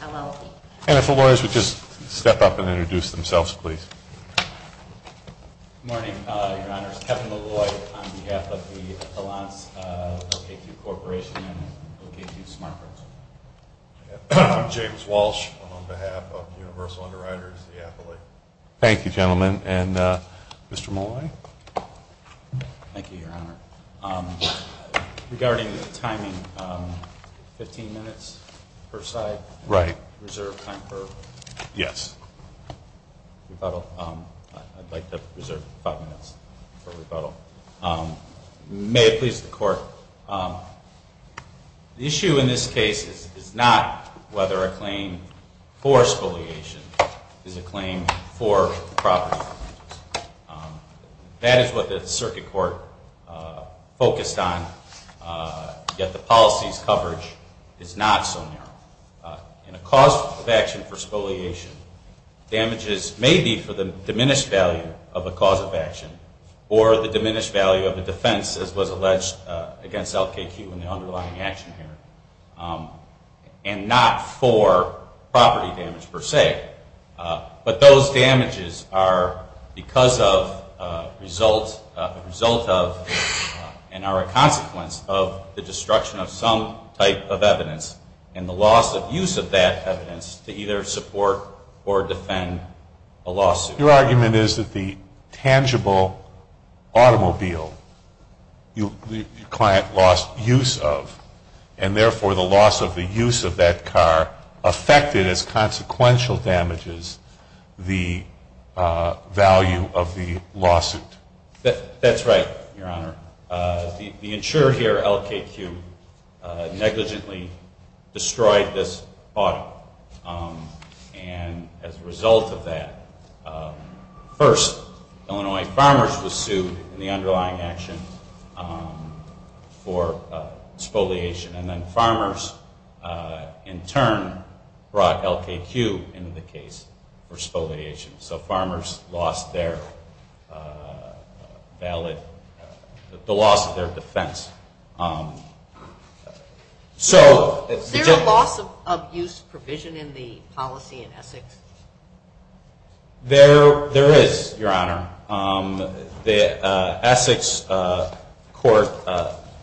LLB. And if the lawyers would just step up and introduce themselves, please. Good morning, Your Honors. Kevin Malloy on behalf of the Allance LKQ Corporation and LKQ Smart Parts. I'm James Walsh on behalf of Universal Underwriters, the affiliate. Thank you, gentlemen. And Mr. Malloy? Thank you, Your Honor. Regarding the timing, 15 minutes per side? Right. Reserve time for? Yes. I'd like to reserve five minutes for rebuttal. May it please the Court, the issue in this case is not whether a claim for spoliation is a claim for property damages. That is what the Circuit Court focused on, yet the policy's coverage is not so narrow. In a cause of action for spoliation, damages may be for the diminished value of a cause of action or the diminished value of a defense, as was alleged against LKQ in the underlying action here, and not for property damage per se. But those damages are because of, result of, and are a consequence of the destruction of some type of evidence and the loss of use of that evidence to either support or defend a lawsuit. Your argument is that the tangible automobile your client lost use of, and therefore the loss of the use of that car affected as consequential damages the value of the lawsuit. That's right, Your Honor. The insurer here, LKQ, negligently destroyed this auto. And as a result of that, first Illinois farmers were sued in the underlying action for spoliation, and then farmers in turn brought LKQ into the case for spoliation. So farmers lost their valid, the loss of their defense. Is there a loss of use provision in the policy in Essex? There is, Your Honor. The Essex court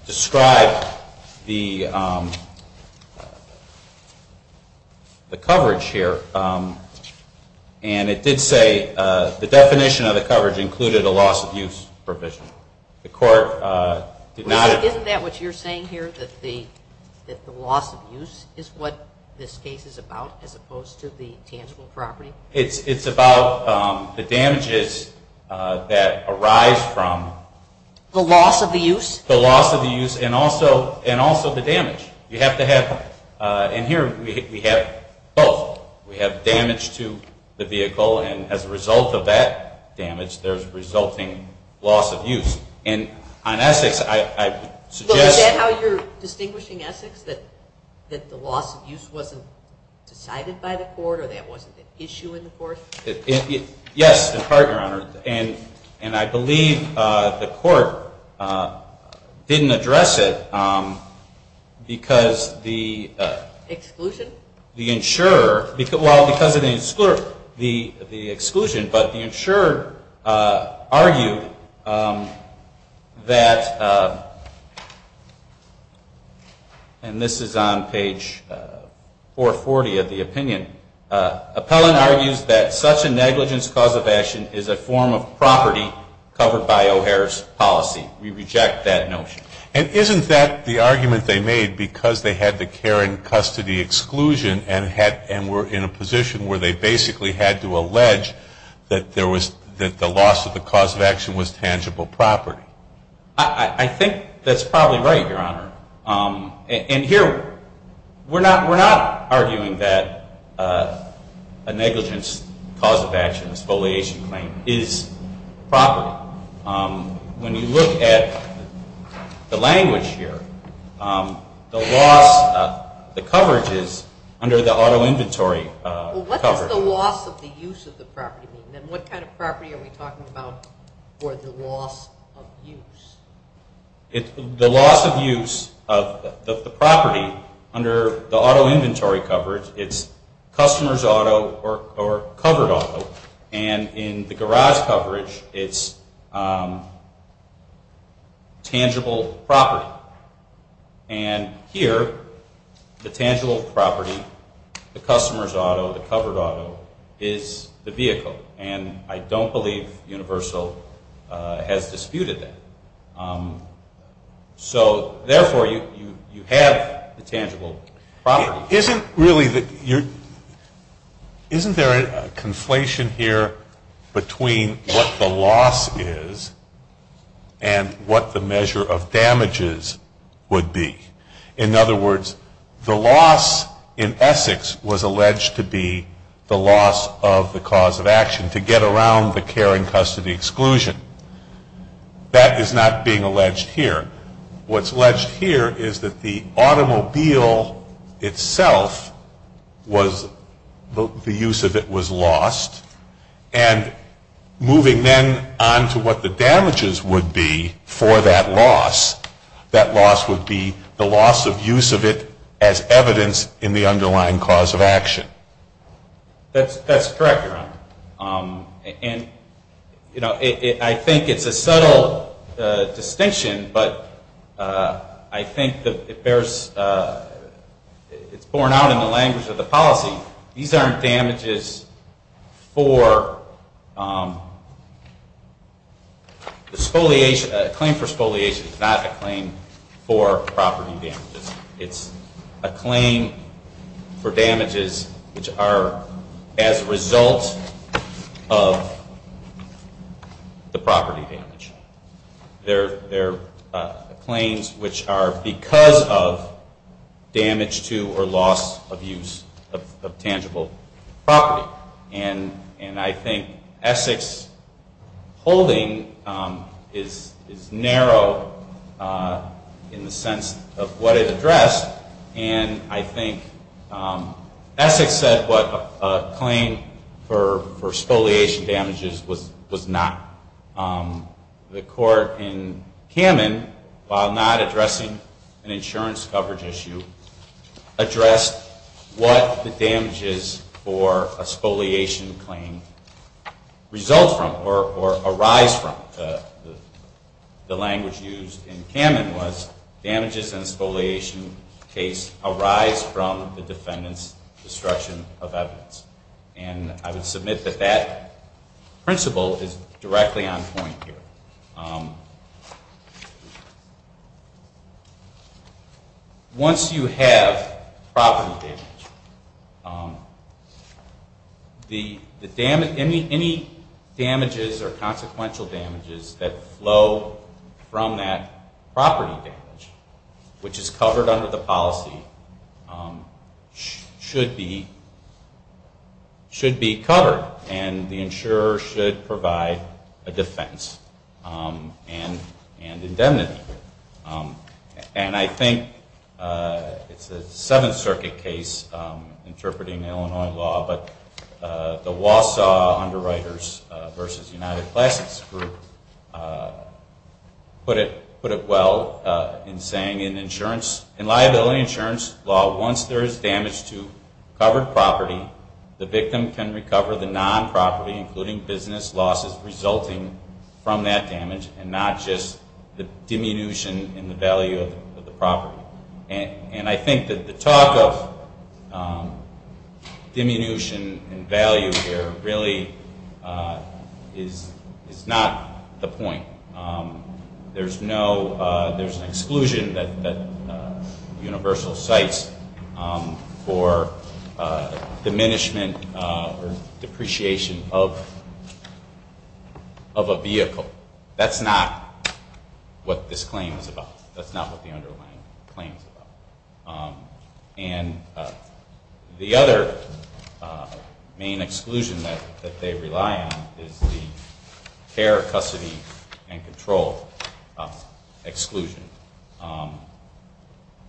described the coverage here, and it did say the definition of the coverage included a loss of use provision. Isn't that what you're saying here, that the loss of use is what this case is about as opposed to the tangible property? It's about the damages that arise from the loss of the use and also the damage. You have to have, and here we have both. We have damage to the vehicle, and as a result of that damage, there's resulting loss of use. Is that how you're distinguishing Essex, that the loss of use wasn't decided by the court or that wasn't an issue in the court? Yes, in part, Your Honor. And I believe the court didn't address it because the insurer, well, because of the exclusion, but the insurer argued that, and this is on page 440 of the opinion. Appellant argues that such a negligence cause of action is a form of property covered by O'Hare's policy. We reject that notion. And isn't that the argument they made because they had the care and custody exclusion and were in a position where they basically had to allege that the loss of the cause of action was tangible property? I think that's probably right, Your Honor. And here, we're not arguing that a negligence cause of action, an expoliation claim, is property. When you look at the language here, the loss of the coverage is under the auto inventory coverage. Well, what does the loss of the use of the property mean? And what kind of property are we talking about for the loss of use? The loss of use of the property under the auto inventory coverage, it's customer's auto or covered auto, and in the garage coverage, it's tangible property. And here, the tangible property, the customer's auto, the covered auto, is the vehicle. And I don't believe Universal has disputed that. So, therefore, you have the tangible property. Isn't there a conflation here between what the loss is and what the measure of damages would be? In other words, the loss in Essex was alleged to be the loss of the cause of action, to get around the care and custody exclusion. That is not being alleged here. What's alleged here is that the automobile itself, the use of it, was lost. And moving then on to what the damages would be for that loss, that loss would be the loss of use of it as evidence in the underlying cause of action. That's correct, Your Honor. I think it's a subtle distinction, but I think it's borne out in the language of the policy. These aren't damages for... A claim for spoliation is not a claim for property damages. It's a claim for damages which are as a result of the property damage. They're claims which are because of damage to or loss of use of tangible property. And I think Essex's holding is narrow in the sense of what it is. And I think Essex said what a claim for spoliation damages was not. The court in Kamin, while not addressing an insurance coverage issue, addressed what the damages for a spoliation claim result from or arise from. The language used in Kamin was damages in a spoliation case arise from the defendant's destruction of evidence. And I would submit that that principle is directly on point here. Once you have property damage, any damages or consequential damages that flow from that property damage, which is covered under the policy, should be covered. And the insurer should provide a defense and indemnity. And I think it's a Seventh Circuit case interpreting Illinois law, but the Wausau Underwriters v. United Classics group put it well in saying in liability insurance law, once there is damage to covered property, the victim can recover the non-property, including business losses resulting from that damage and not just the diminution in the value of the property. And I think that the talk of diminution in value here really is not the point. There's an exclusion that Universal cites for diminishment or depreciation of a vehicle. That's not what this claim is about. That's not what the underlying claim is about. And the other main exclusion that they rely on is the care, custody, and control exclusion.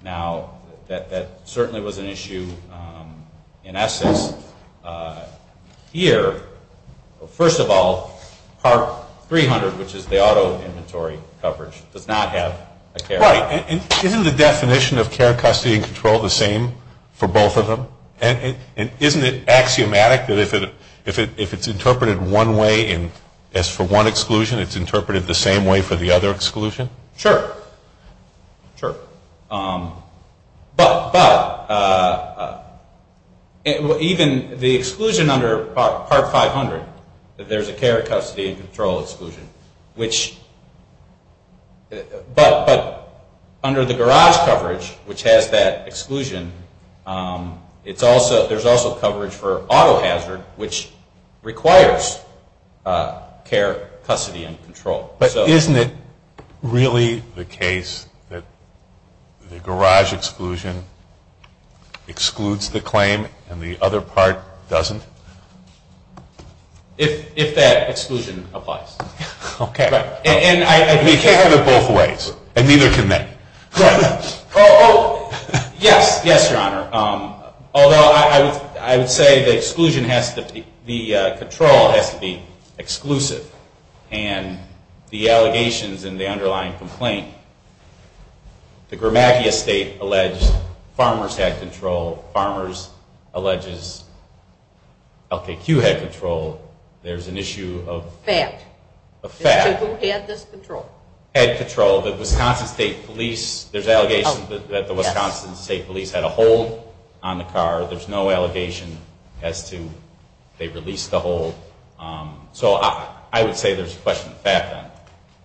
Now, that certainly was an issue in essence. Here, first of all, part 300, which is the auto inventory coverage, does not have a care. Isn't the definition of care, custody, and control the same for both of them? And isn't it axiomatic that if it's interpreted one way as for one exclusion, it's interpreted the same way for the other exclusion? Sure. But even the exclusion under part 500, there's a care, custody, and control exclusion, but under the garage coverage, which has that exclusion, there's also coverage for auto hazard, which requires care, custody, and control. But isn't it really the case that the garage exclusion excludes the claim and the other part doesn't? If that exclusion applies. And you can't have it both ways, and neither can they. Yes, yes, Your Honor. Although I would say the control has to be exclusive. And the allegations in the underlying complaint, the Gramacchia State alleged farmers had control. Farmers alleges LKQ had control. There's an issue of fact. Who had this control? Had control, the Wisconsin State Police. There's allegations that the Wisconsin State Police had a hold on the car. There's no allegation as to they released the hold. So I would say there's a question of fact on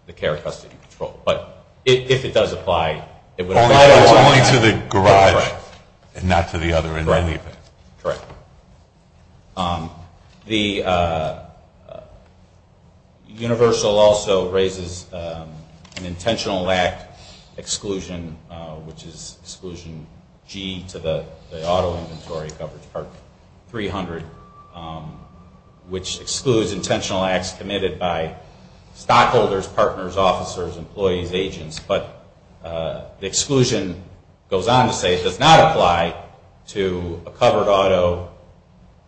the care, custody, and control. But if it does apply, it would apply to the garage and not to the other end of the event. Correct. Universal also raises an intentional act exclusion, which is exclusion G to the auto inventory coverage part 300, which excludes intentional acts committed by stockholders, partners, officers, employees, agents. But the exclusion goes on to say it does not apply to a covered auto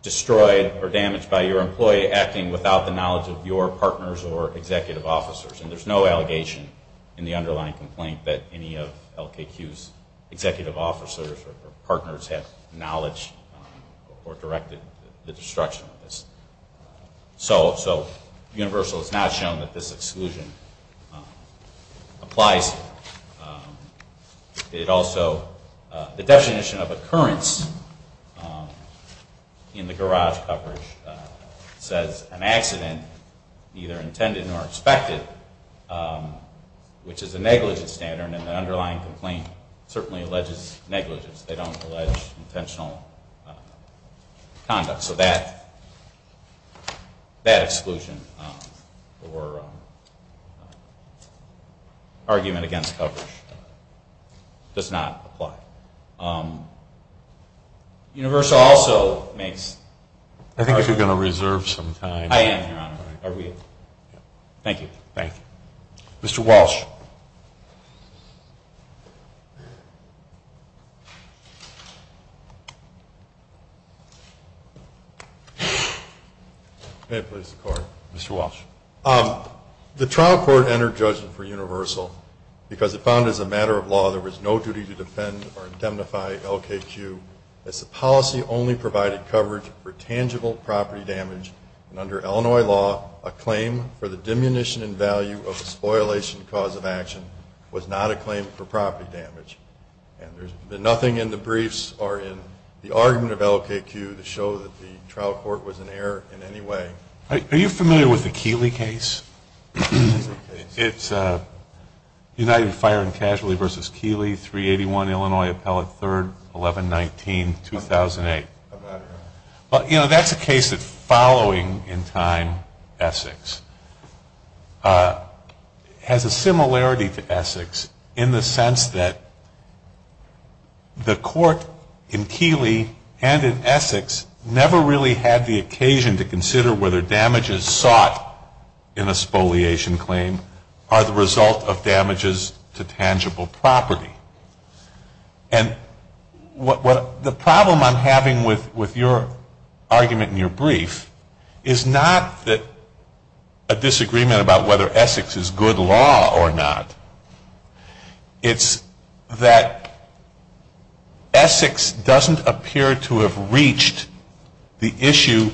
destroyed or damaged by your employee acting without the knowledge of your partners or executive officers. And there's no allegation in the underlying complaint that any of LKQ's executive officers or partners have knowledge or directed the destruction of this. So Universal has not shown that this exclusion applies. It also, the definition of occurrence in the garage coverage says an accident neither intended nor expected, which is a negligent standard. And the underlying complaint certainly alleges negligence. They don't allege intentional conduct. So that exclusion or argument against coverage does not apply. Universal also makes... I am, Your Honor. Mr. Walsh. The trial court entered judgment for Universal because it found as a matter of law there was no duty to defend or indemnify LKQ under Illinois law, a claim for the diminution in value of a spoilation cause of action was not a claim for property damage. And there's been nothing in the briefs or in the argument of LKQ to show that the trial court was in error in any way. Are you familiar with the Keeley case? It's United Fire and Casualty v. Keeley, 381 Illinois Appellate 3rd, 1119, 2008. Well, you know, that's a case that's following in time Essex. It has a similarity to Essex in the sense that the court in Keeley and in Essex never really had the occasion to consider whether damages sought in a spoliation claim are the result of damages to tangible property. And the problem I'm having with your argument in your brief is not that a disagreement about whether Essex is good law or not. It's that Essex doesn't appear to have reached the issue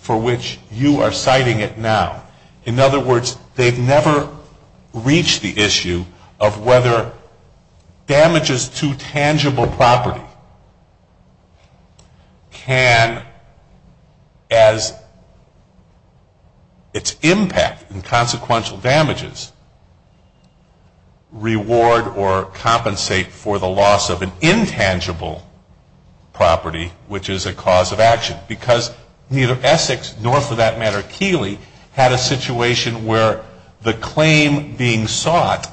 for which you are citing it now. In other words, they've never reached the issue of whether damages to tangible property can, as its impact and consequential damages, reward or compensate for the loss of an intangible property, which is a cause of action. Because neither Essex nor, for that matter, Keeley had a situation where the claim being sought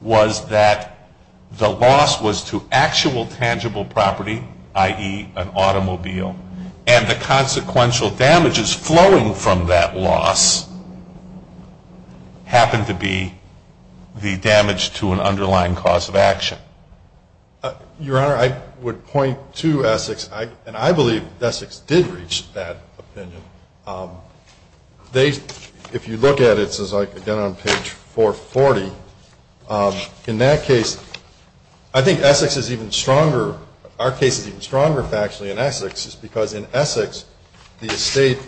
was that the loss was to actual tangible property, i.e., an automobile, and the consequential damages flowing from that loss happened to be the damage to an underlying cause of action. Your Honor, I would point to Essex, and I believe that Essex did reach that opinion. If you look at it, it says, again, on page 440, in that case, I think Essex is even stronger. Our case is even stronger, factually, in Essex because in Essex the estate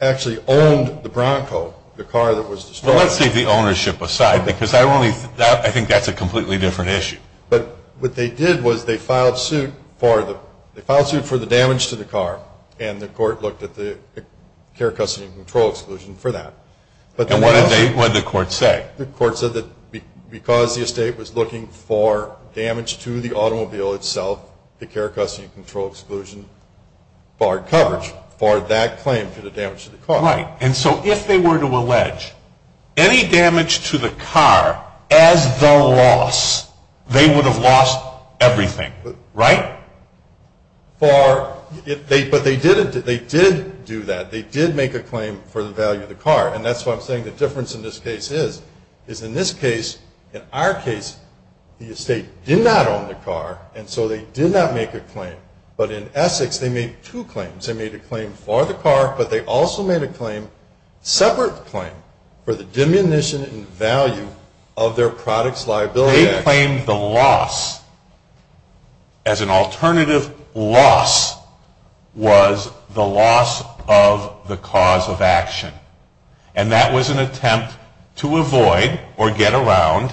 actually owned the Bronco, the car that was destroyed. So let's leave the ownership aside because I think that's a completely different issue. But what they did was they filed suit for the damage to the car, and the court looked at the care, custody, and control exclusion for that. And what did the court say? The court said that because the estate was looking for damage to the automobile itself, the care, custody, and control exclusion barred coverage for that If they were to allege any damage to the car as the loss, they would have lost everything, right? But they did do that. They did make a claim for the value of the car, and that's what I'm saying the difference in this case is. In this case, in our case, the estate did not own the car, and so they did not make a claim. But in Essex, they made two claims. They made a claim for the car, but they also made a claim, separate claim, for the diminution in value of their product's liability. They claimed the loss as an alternative loss was the loss of the cause of action. And that was an attempt to avoid, or get around,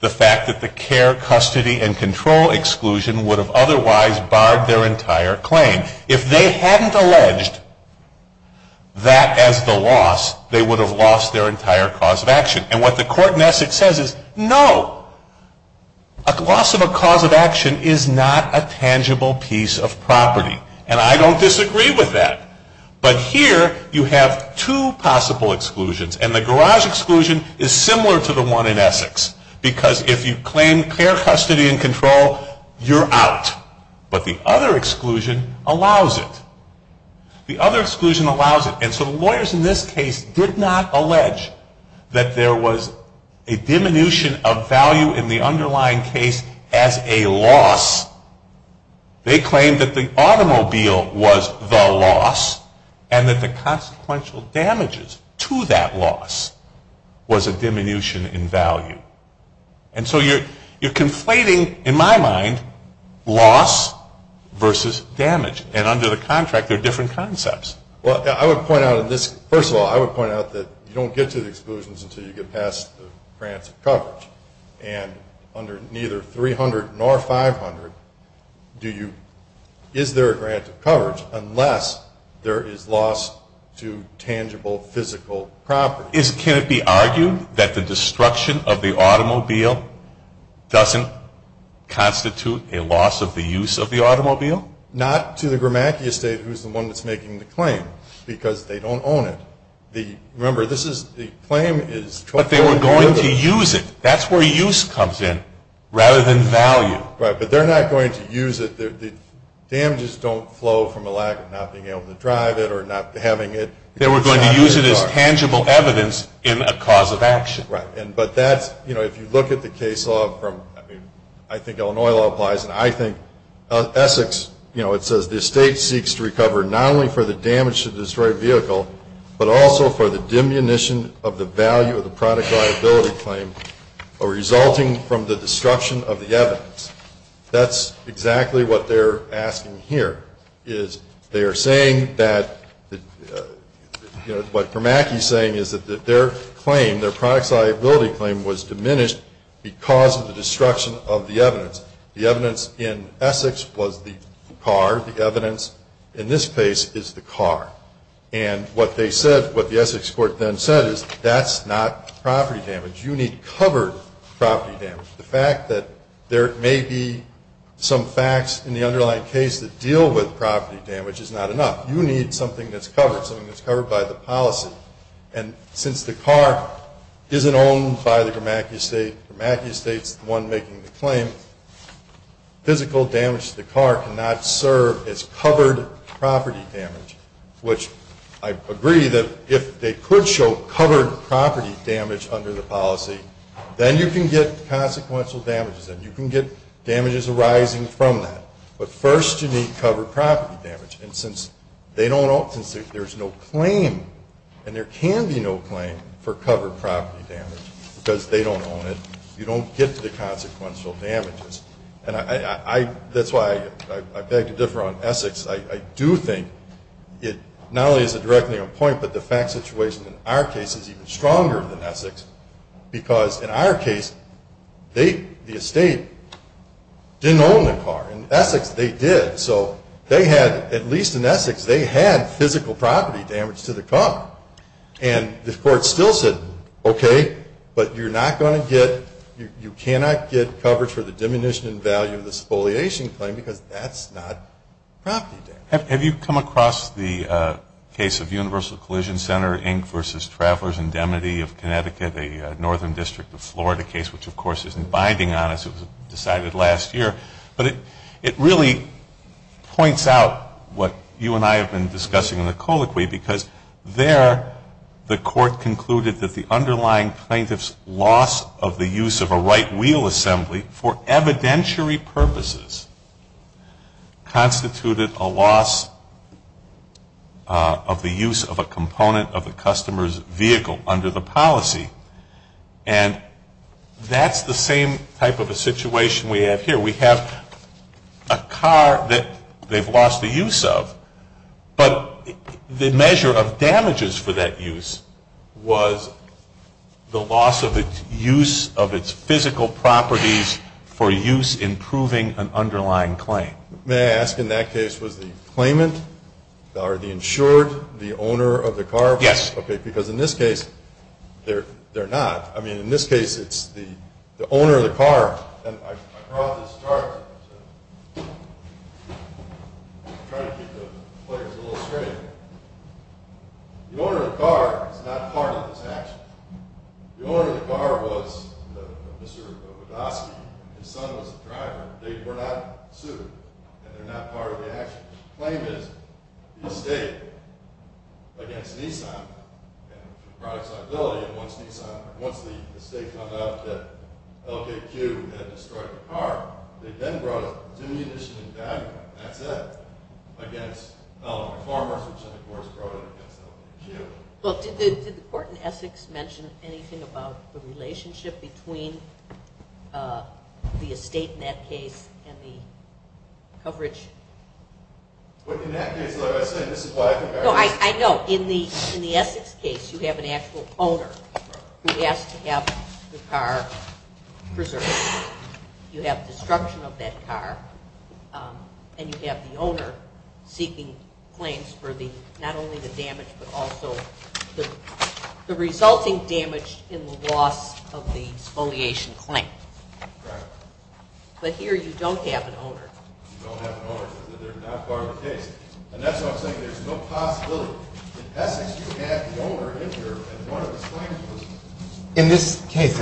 the fact that the care, custody, and control exclusion would have otherwise barred their entire claim. If they hadn't alleged that as the loss, they would have lost their entire cause of action. And what the court in Essex says is, no. A loss of a cause of action is not a tangible piece of property. And I don't disagree with that. But here, you have two possible exclusions, and the garage exclusion is similar to the one in Essex. Because if you claim care, custody, and control, you're out. But the other exclusion allows it. And so the lawyers in this case did not allege that there was a diminution of value in the underlying case as a loss. They claimed that the automobile was the loss, and that the consequential damages to that loss was a diminution in value. And so you're conflating, in my mind, loss versus damage. And under the contract, there are different concepts. First of all, I would point out that you don't get to the exclusions until you get past the grants of coverage. And under neither 300 nor 500, is there a grant of coverage unless there is loss to tangible, physical property? Can it be argued that the destruction of the automobile doesn't constitute a loss of the use of the automobile? Not to the Grimacki estate, who's the one that's making the claim, because they don't own it. Remember, the claim is... But they were going to use it. That's where use comes in, rather than value. Right, but they're not going to use it. The damages don't flow from a lack of not being able to drive it or not having it... They were going to use it as tangible evidence in a cause of action. Right, but that's, you know, if you look at the case law from, I mean, I think Illinois law applies, and I think... Essex, you know, it says the estate seeks to recover not only for the damage to the destroyed vehicle, but also for the diminution of the value of the product liability claim resulting from the destruction of the evidence. That's exactly what they're asking here, is they are saying that... You know, what Grimacki's saying is that their claim, their product liability claim, was diminished because of the destruction of the evidence. The evidence in Essex was the car. The evidence in this case is the car. And what they said, what the Essex court then said is, that's not property damage. You need covered property damage. The fact that there may be some facts in the underlying case that deal with property damage is not enough. You need something that's covered, something that's covered by the policy. And since the car isn't owned by the Grimacki estate, Grimacki estate's the one making the claim, physical damage to the car cannot serve as covered property damage, which I agree that if they could show covered property damage under the policy, then you can get consequential damages and you can get damages arising from that. But first you need covered property damage. And since they don't own it, since there's no claim, and there can be no claim for covered property damage because they don't own it, you don't get the consequential damages. And that's why I beg to differ on Essex. I do think it not only is it directly on point, but the fact situation in our case is even stronger than Essex. Because in our case, they, the estate, didn't own the car. In Essex they did. So they had, at least in Essex, they had physical property damage to the car. And the court still said, okay, but you're not going to get, you cannot get coverage for the diminution in value of the spoliation claim because that's not property damage. Have you come across the case of Universal Collision Center Inc. versus Travelers Indemnity of Connecticut, a northern district of Florida case, which of course isn't binding on us, it was decided last year. But it really points out what you and I have been discussing in the colloquy because there the court concluded that the underlying plaintiff's loss of the use of a right wheel assembly for evidentiary purposes constituted a loss of the use of a component of the customer's vehicle under the policy. And that's the same type of a situation we have here. We have a car that they've lost the use of, but the measure of damages for that use was the loss of its use of its physical properties for use in proving an underlying claim. May I ask in that case was the claimant or the insured the owner of the car? Yes. Okay, because in this case they're not. I mean, in this case it's the owner of the car. I brought this chart to try to keep the players a little straight. The owner of the car is not part of this action. The owner of the car was Mr. Wodoski. His son was the driver. They were not sued, and they're not part of the action. The claim is the estate against Nissan and the product's liability. And once the estate found out that LKQ had destroyed the car, they then brought it to the initial indictment, and that's it, against farmers, which, of course, brought it against LKQ. Well, did the court in Essex mention anything about the relationship between the estate in that case and the coverage? Well, in that case, like I said, this is why I think I was asking. No, I know. In the Essex case, you have an actual owner who has to have the car preserved. You have destruction of that car, and you have the owner seeking claims for not only the damage but also the resulting damage in the loss of the exfoliation claim. Right. But here you don't have an owner. You don't have an owner because they're not part of the case. And that's why I'm saying there's no possibility. In Essex, you have the owner in here, and one of his claims was… In this case,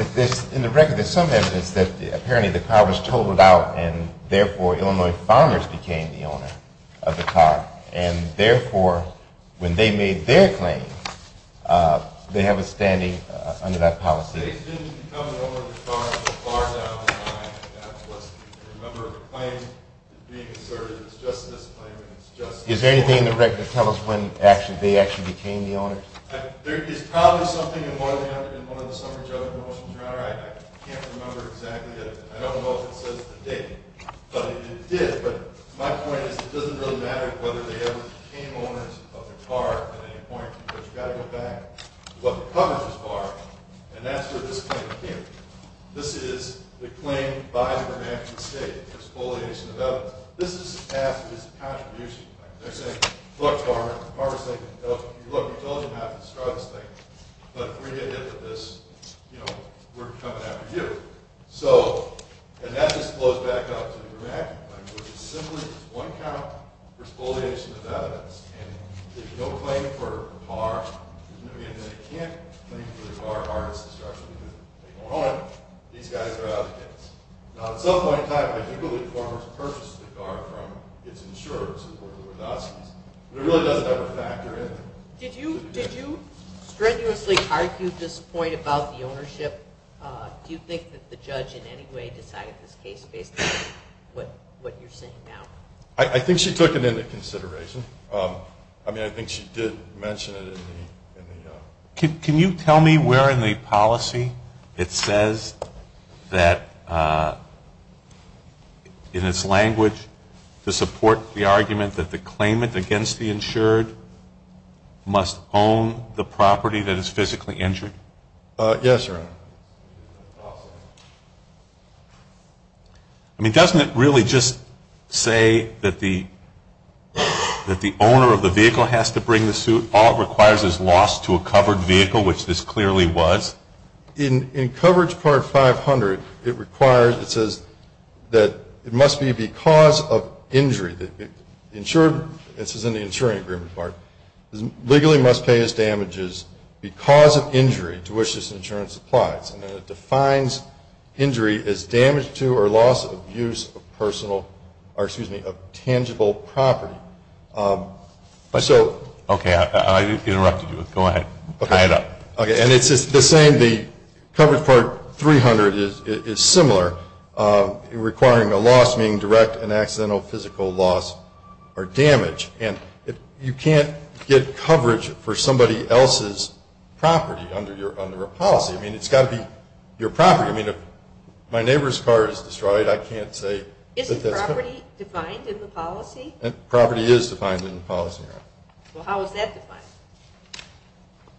in the record, there's some evidence that apparently the car was totaled out and, therefore, Illinois farmers became the owner of the car, and, therefore, when they made their claim, they have a standing under that policy. They didn't become the owner of the car until far down the line. That was a member of the claim being asserted. It's just a misclaim, and it's just… Is there anything in the record that tells us when they actually became the owners? There is probably something in one of the summary judgment motions, right? I can't remember exactly. I don't know if it says the date, but it did. But my point is it doesn't really matter whether they ever became owners of the car at any point because you've got to go back to what the coverage is for, and that's where this claim came from. This is the claim by the Vermont State, the exfoliation of evidence. This is passed as a contribution. They're saying, look, farmer. The farmer is saying, look, we told you not to destroy this thing, but if we get hit with this, we're coming after you. And that just blows back up to the dramatic claim, which is simply one count for exfoliation of evidence, and if you don't claim for the car, and they can't claim for the car or its destruction because they don't own it, these guys are out to get us. Now, at some point in time, I do believe farmers purchased the car from its insurers, who were the Wadatskis, but it really doesn't ever factor in. Did you strenuously argue this point about the ownership? Do you think that the judge in any way decided this case based on what you're saying now? I think she took it into consideration. I mean, I think she did mention it in the... Can you tell me where in the policy it says that in its language to support the argument that the claimant against the insured must own the property that is physically injured? Yes, Your Honor. I mean, doesn't it really just say that the owner of the vehicle has to bring the suit? All it requires is loss to a covered vehicle, which this clearly was. In coverage part 500, it requires, it says that it must be because of injury. It says in the insuring agreement part, legally must pay as damages because of injury to which this insurance applies. And then it defines injury as damage to or loss of use of tangible property. Okay, I interrupted you. Go ahead. Tie it up. Okay, and it's the same, the coverage part 300 is similar, requiring a loss being direct and accidental physical loss or damage. And you can't get coverage for somebody else's property under a policy. I mean, it's got to be your property. I mean, if my neighbor's car is destroyed, I can't say that that's... Isn't property defined in the policy? Property is defined in the policy, Your Honor. Well, how is that defined?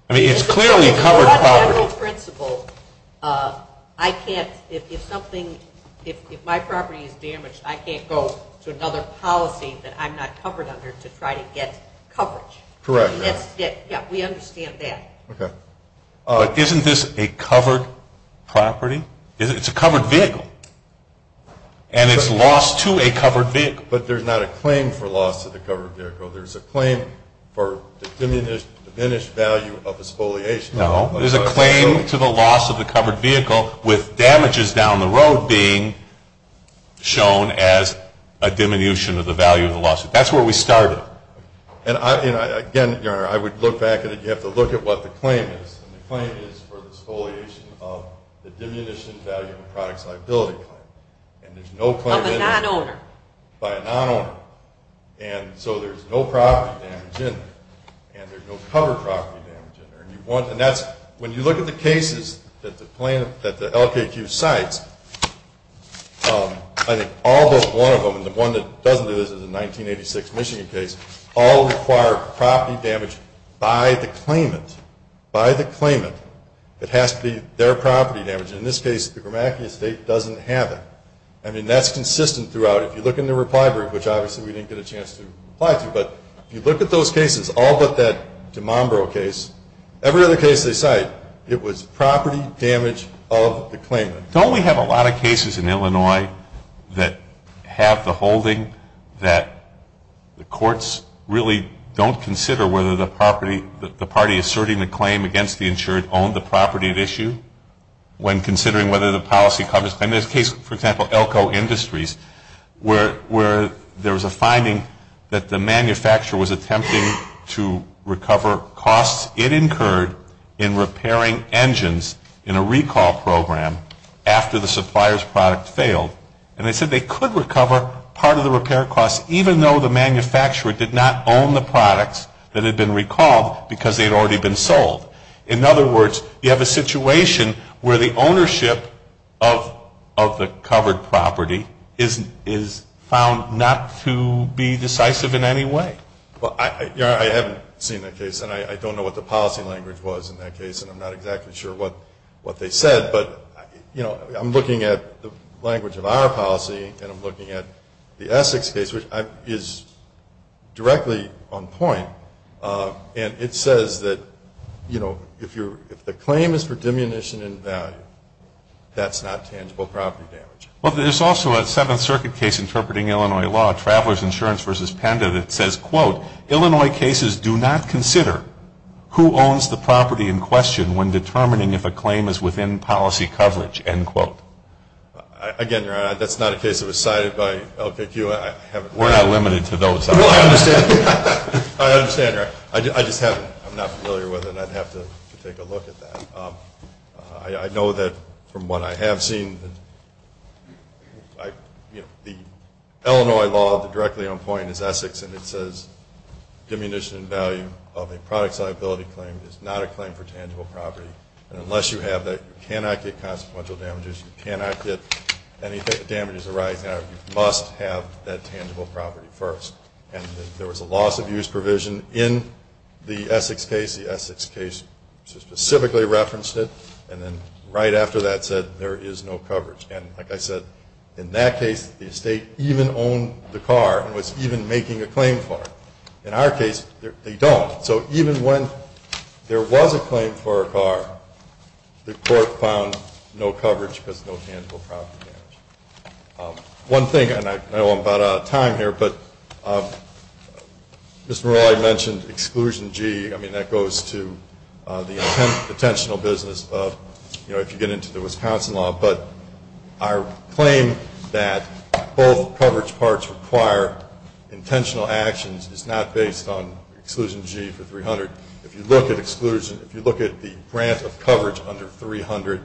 I mean, it's clearly covered property. On general principle, I can't, if something, if my property is damaged, I can't go to another policy that I'm not covered under to try to get coverage. Correct. Yeah, we understand that. Okay. Isn't this a covered property? It's a covered vehicle. And it's loss to a covered vehicle. But there's not a claim for loss to the covered vehicle. There's a claim for diminished value of exfoliation. No, there's a claim to the loss of the covered vehicle with damages down the road being shown as a diminution of the value of the loss. That's where we started. And, again, Your Honor, I would look back at it. You have to look at what the claim is. And the claim is for the exfoliation of the diminished value of a product's liability claim. Of a non-owner. By a non-owner. And so there's no property damage in there. And there's no covered property damage in there. And that's, when you look at the cases that the LKQ cites, I think all but one of them, and the one that doesn't do this is a 1986 Michigan case, all require property damage by the claimant. By the claimant. It has to be their property damage. In this case, the Grimacki Estate doesn't have it. I mean, that's consistent throughout. If you look in the reply brief, which obviously we didn't get a chance to reply to, but if you look at those cases, all but that DeMombro case, every other case they cite, it was property damage of the claimant. Don't we have a lot of cases in Illinois that have the holding that the courts really don't consider whether the property, the party asserting the claim against the insured owned the property at issue when considering whether the policy covers, and this case, for example, Elko Industries, where there was a finding that the manufacturer was attempting to recover costs it incurred in repairing engines in a recall program after the supplier's product failed. And they said they could recover part of the repair costs, even though the manufacturer did not own the products that had been recalled because they had already been sold. In other words, you have a situation where the ownership of the covered property is found not to be decisive in any way. Well, I haven't seen that case, and I don't know what the policy language was in that case, and I'm not exactly sure what they said. But, you know, I'm looking at the language of our policy, and I'm looking at the Essex case, which is directly on point. And it says that, you know, if the claim is for diminution in value, that's not tangible property damage. Well, there's also a Seventh Circuit case interpreting Illinois law, Travelers Insurance v. Panda, that says, quote, Illinois cases do not consider who owns the property in question when determining if a claim is within policy coverage, end quote. Again, that's not a case that was cited by LKQ. We're not limited to those. Well, I understand. I understand. I just haven't. I'm not familiar with it, and I'd have to take a look at that. I know that from what I have seen, you know, the Illinois law, the directly on point is Essex, and it says diminution in value of a product's liability claim is not a claim for tangible property. And unless you have that, you cannot get consequential damages. You cannot get any damages arising out of it. It must have that tangible property first. And there was a loss of use provision in the Essex case. The Essex case specifically referenced it, and then right after that said there is no coverage. And like I said, in that case, the estate even owned the car and was even making a claim for it. In our case, they don't. So even when there was a claim for a car, the court found no coverage because no tangible property damage. One thing, and I know I'm about out of time here, but Mr. Morelli mentioned Exclusion G. I mean, that goes to the intentional business of, you know, if you get into the Wisconsin law. But our claim that both coverage parts require intentional actions is not based on Exclusion G for 300. If you look at exclusion, if you look at the grant of coverage under 300,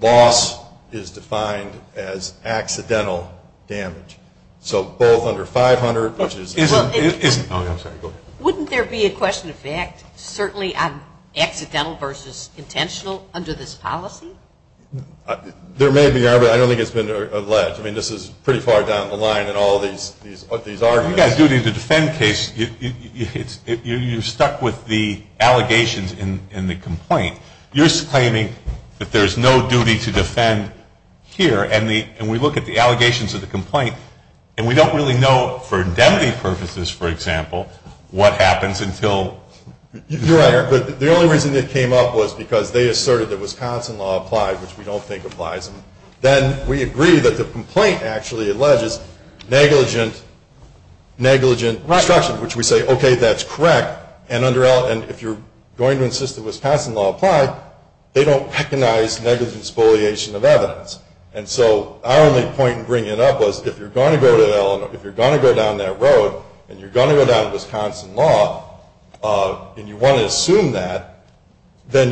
loss is defined as accidental damage. So both under 500, which is. Isn't. Oh, I'm sorry. Go ahead. Wouldn't there be a question of fact certainly on accidental versus intentional under this policy? There may be, but I don't think it's been alleged. I mean, this is pretty far down the line in all of these arguments. If you've got a duty to defend case, you're stuck with the allegations in the complaint. You're claiming that there's no duty to defend here, and we look at the allegations of the complaint, and we don't really know for indemnity purposes, for example, what happens until. You're right. But the only reason it came up was because they asserted that Wisconsin law applied, which we don't think applies. Then we agree that the complaint actually alleges negligent destruction, which we say, okay, that's correct. And if you're going to insist that Wisconsin law apply, they don't recognize negligent spoliation of evidence. And so our only point in bringing it up was if you're going to go down that road and you're going to go down to Wisconsin law and you want to assume that, then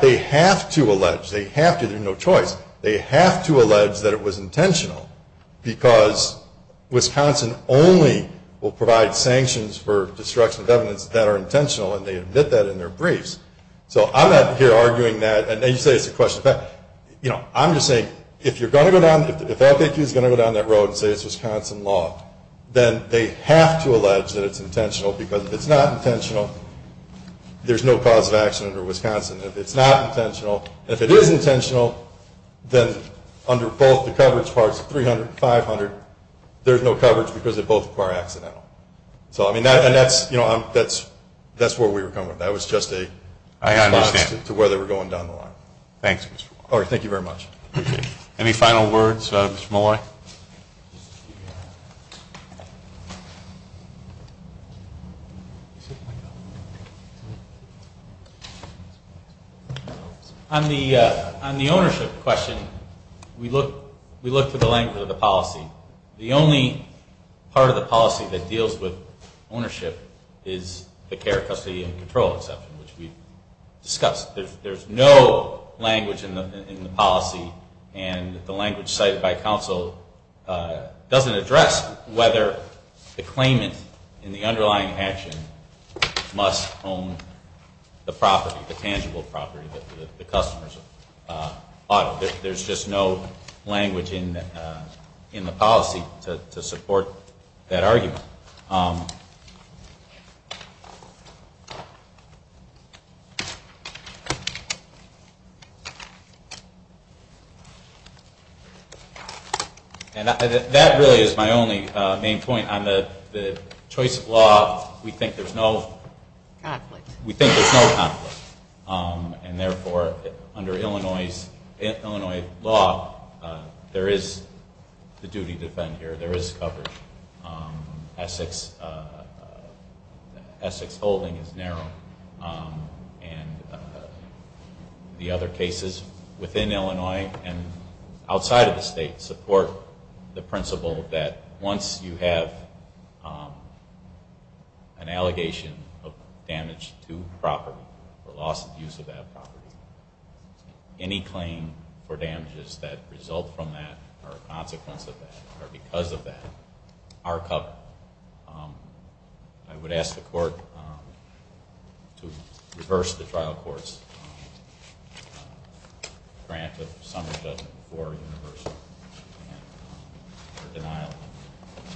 they have to allege. They have to. They have no choice. They have to allege that it was intentional because Wisconsin only will provide sanctions for destruction of evidence that are intentional, and they admit that in their briefs. So I'm not here arguing that. And you say it's a question of fact. I'm just saying if you're going to go down, if the defense is going to go down that road and say it's Wisconsin law, then they have to allege that it's intentional because if it's not intentional, there's no cause of action under Wisconsin. If it's not intentional, if it is intentional, then under both the coverage parts, 300 and 500, there's no coverage because they both require accidental. And that's where we were coming from. That was just a response to where they were going down the line. Thanks, Mr. Moore. All right. Thank you very much. Appreciate it. Any final words, Mr. Moore? On the ownership question, we looked at the language of the policy. The only part of the policy that deals with ownership is the care, custody, and control exception, which we discussed. And the language cited by counsel doesn't address whether the claimant in the underlying action must own the property, the tangible property that the customers ought to. There's just no language in the policy to support that argument. And that really is my only main point. On the choice of law, we think there's no conflict. And therefore, under Illinois law, there is the duty to defend here. There is coverage. Essex holding is narrow. And the other cases within Illinois and outside of the state support the principle that once you have an allegation of damage to property or loss of use of that property, any claim for damages that result from that or a consequence of that or because of that are covered. I would ask the court to reverse the trial court's grant of summary judgment for universal and denial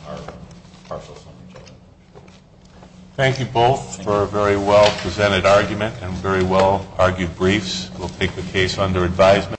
of partial summary judgment. Thank you both for a very well-presented argument and very well-argued briefs. We'll take the case under advisement.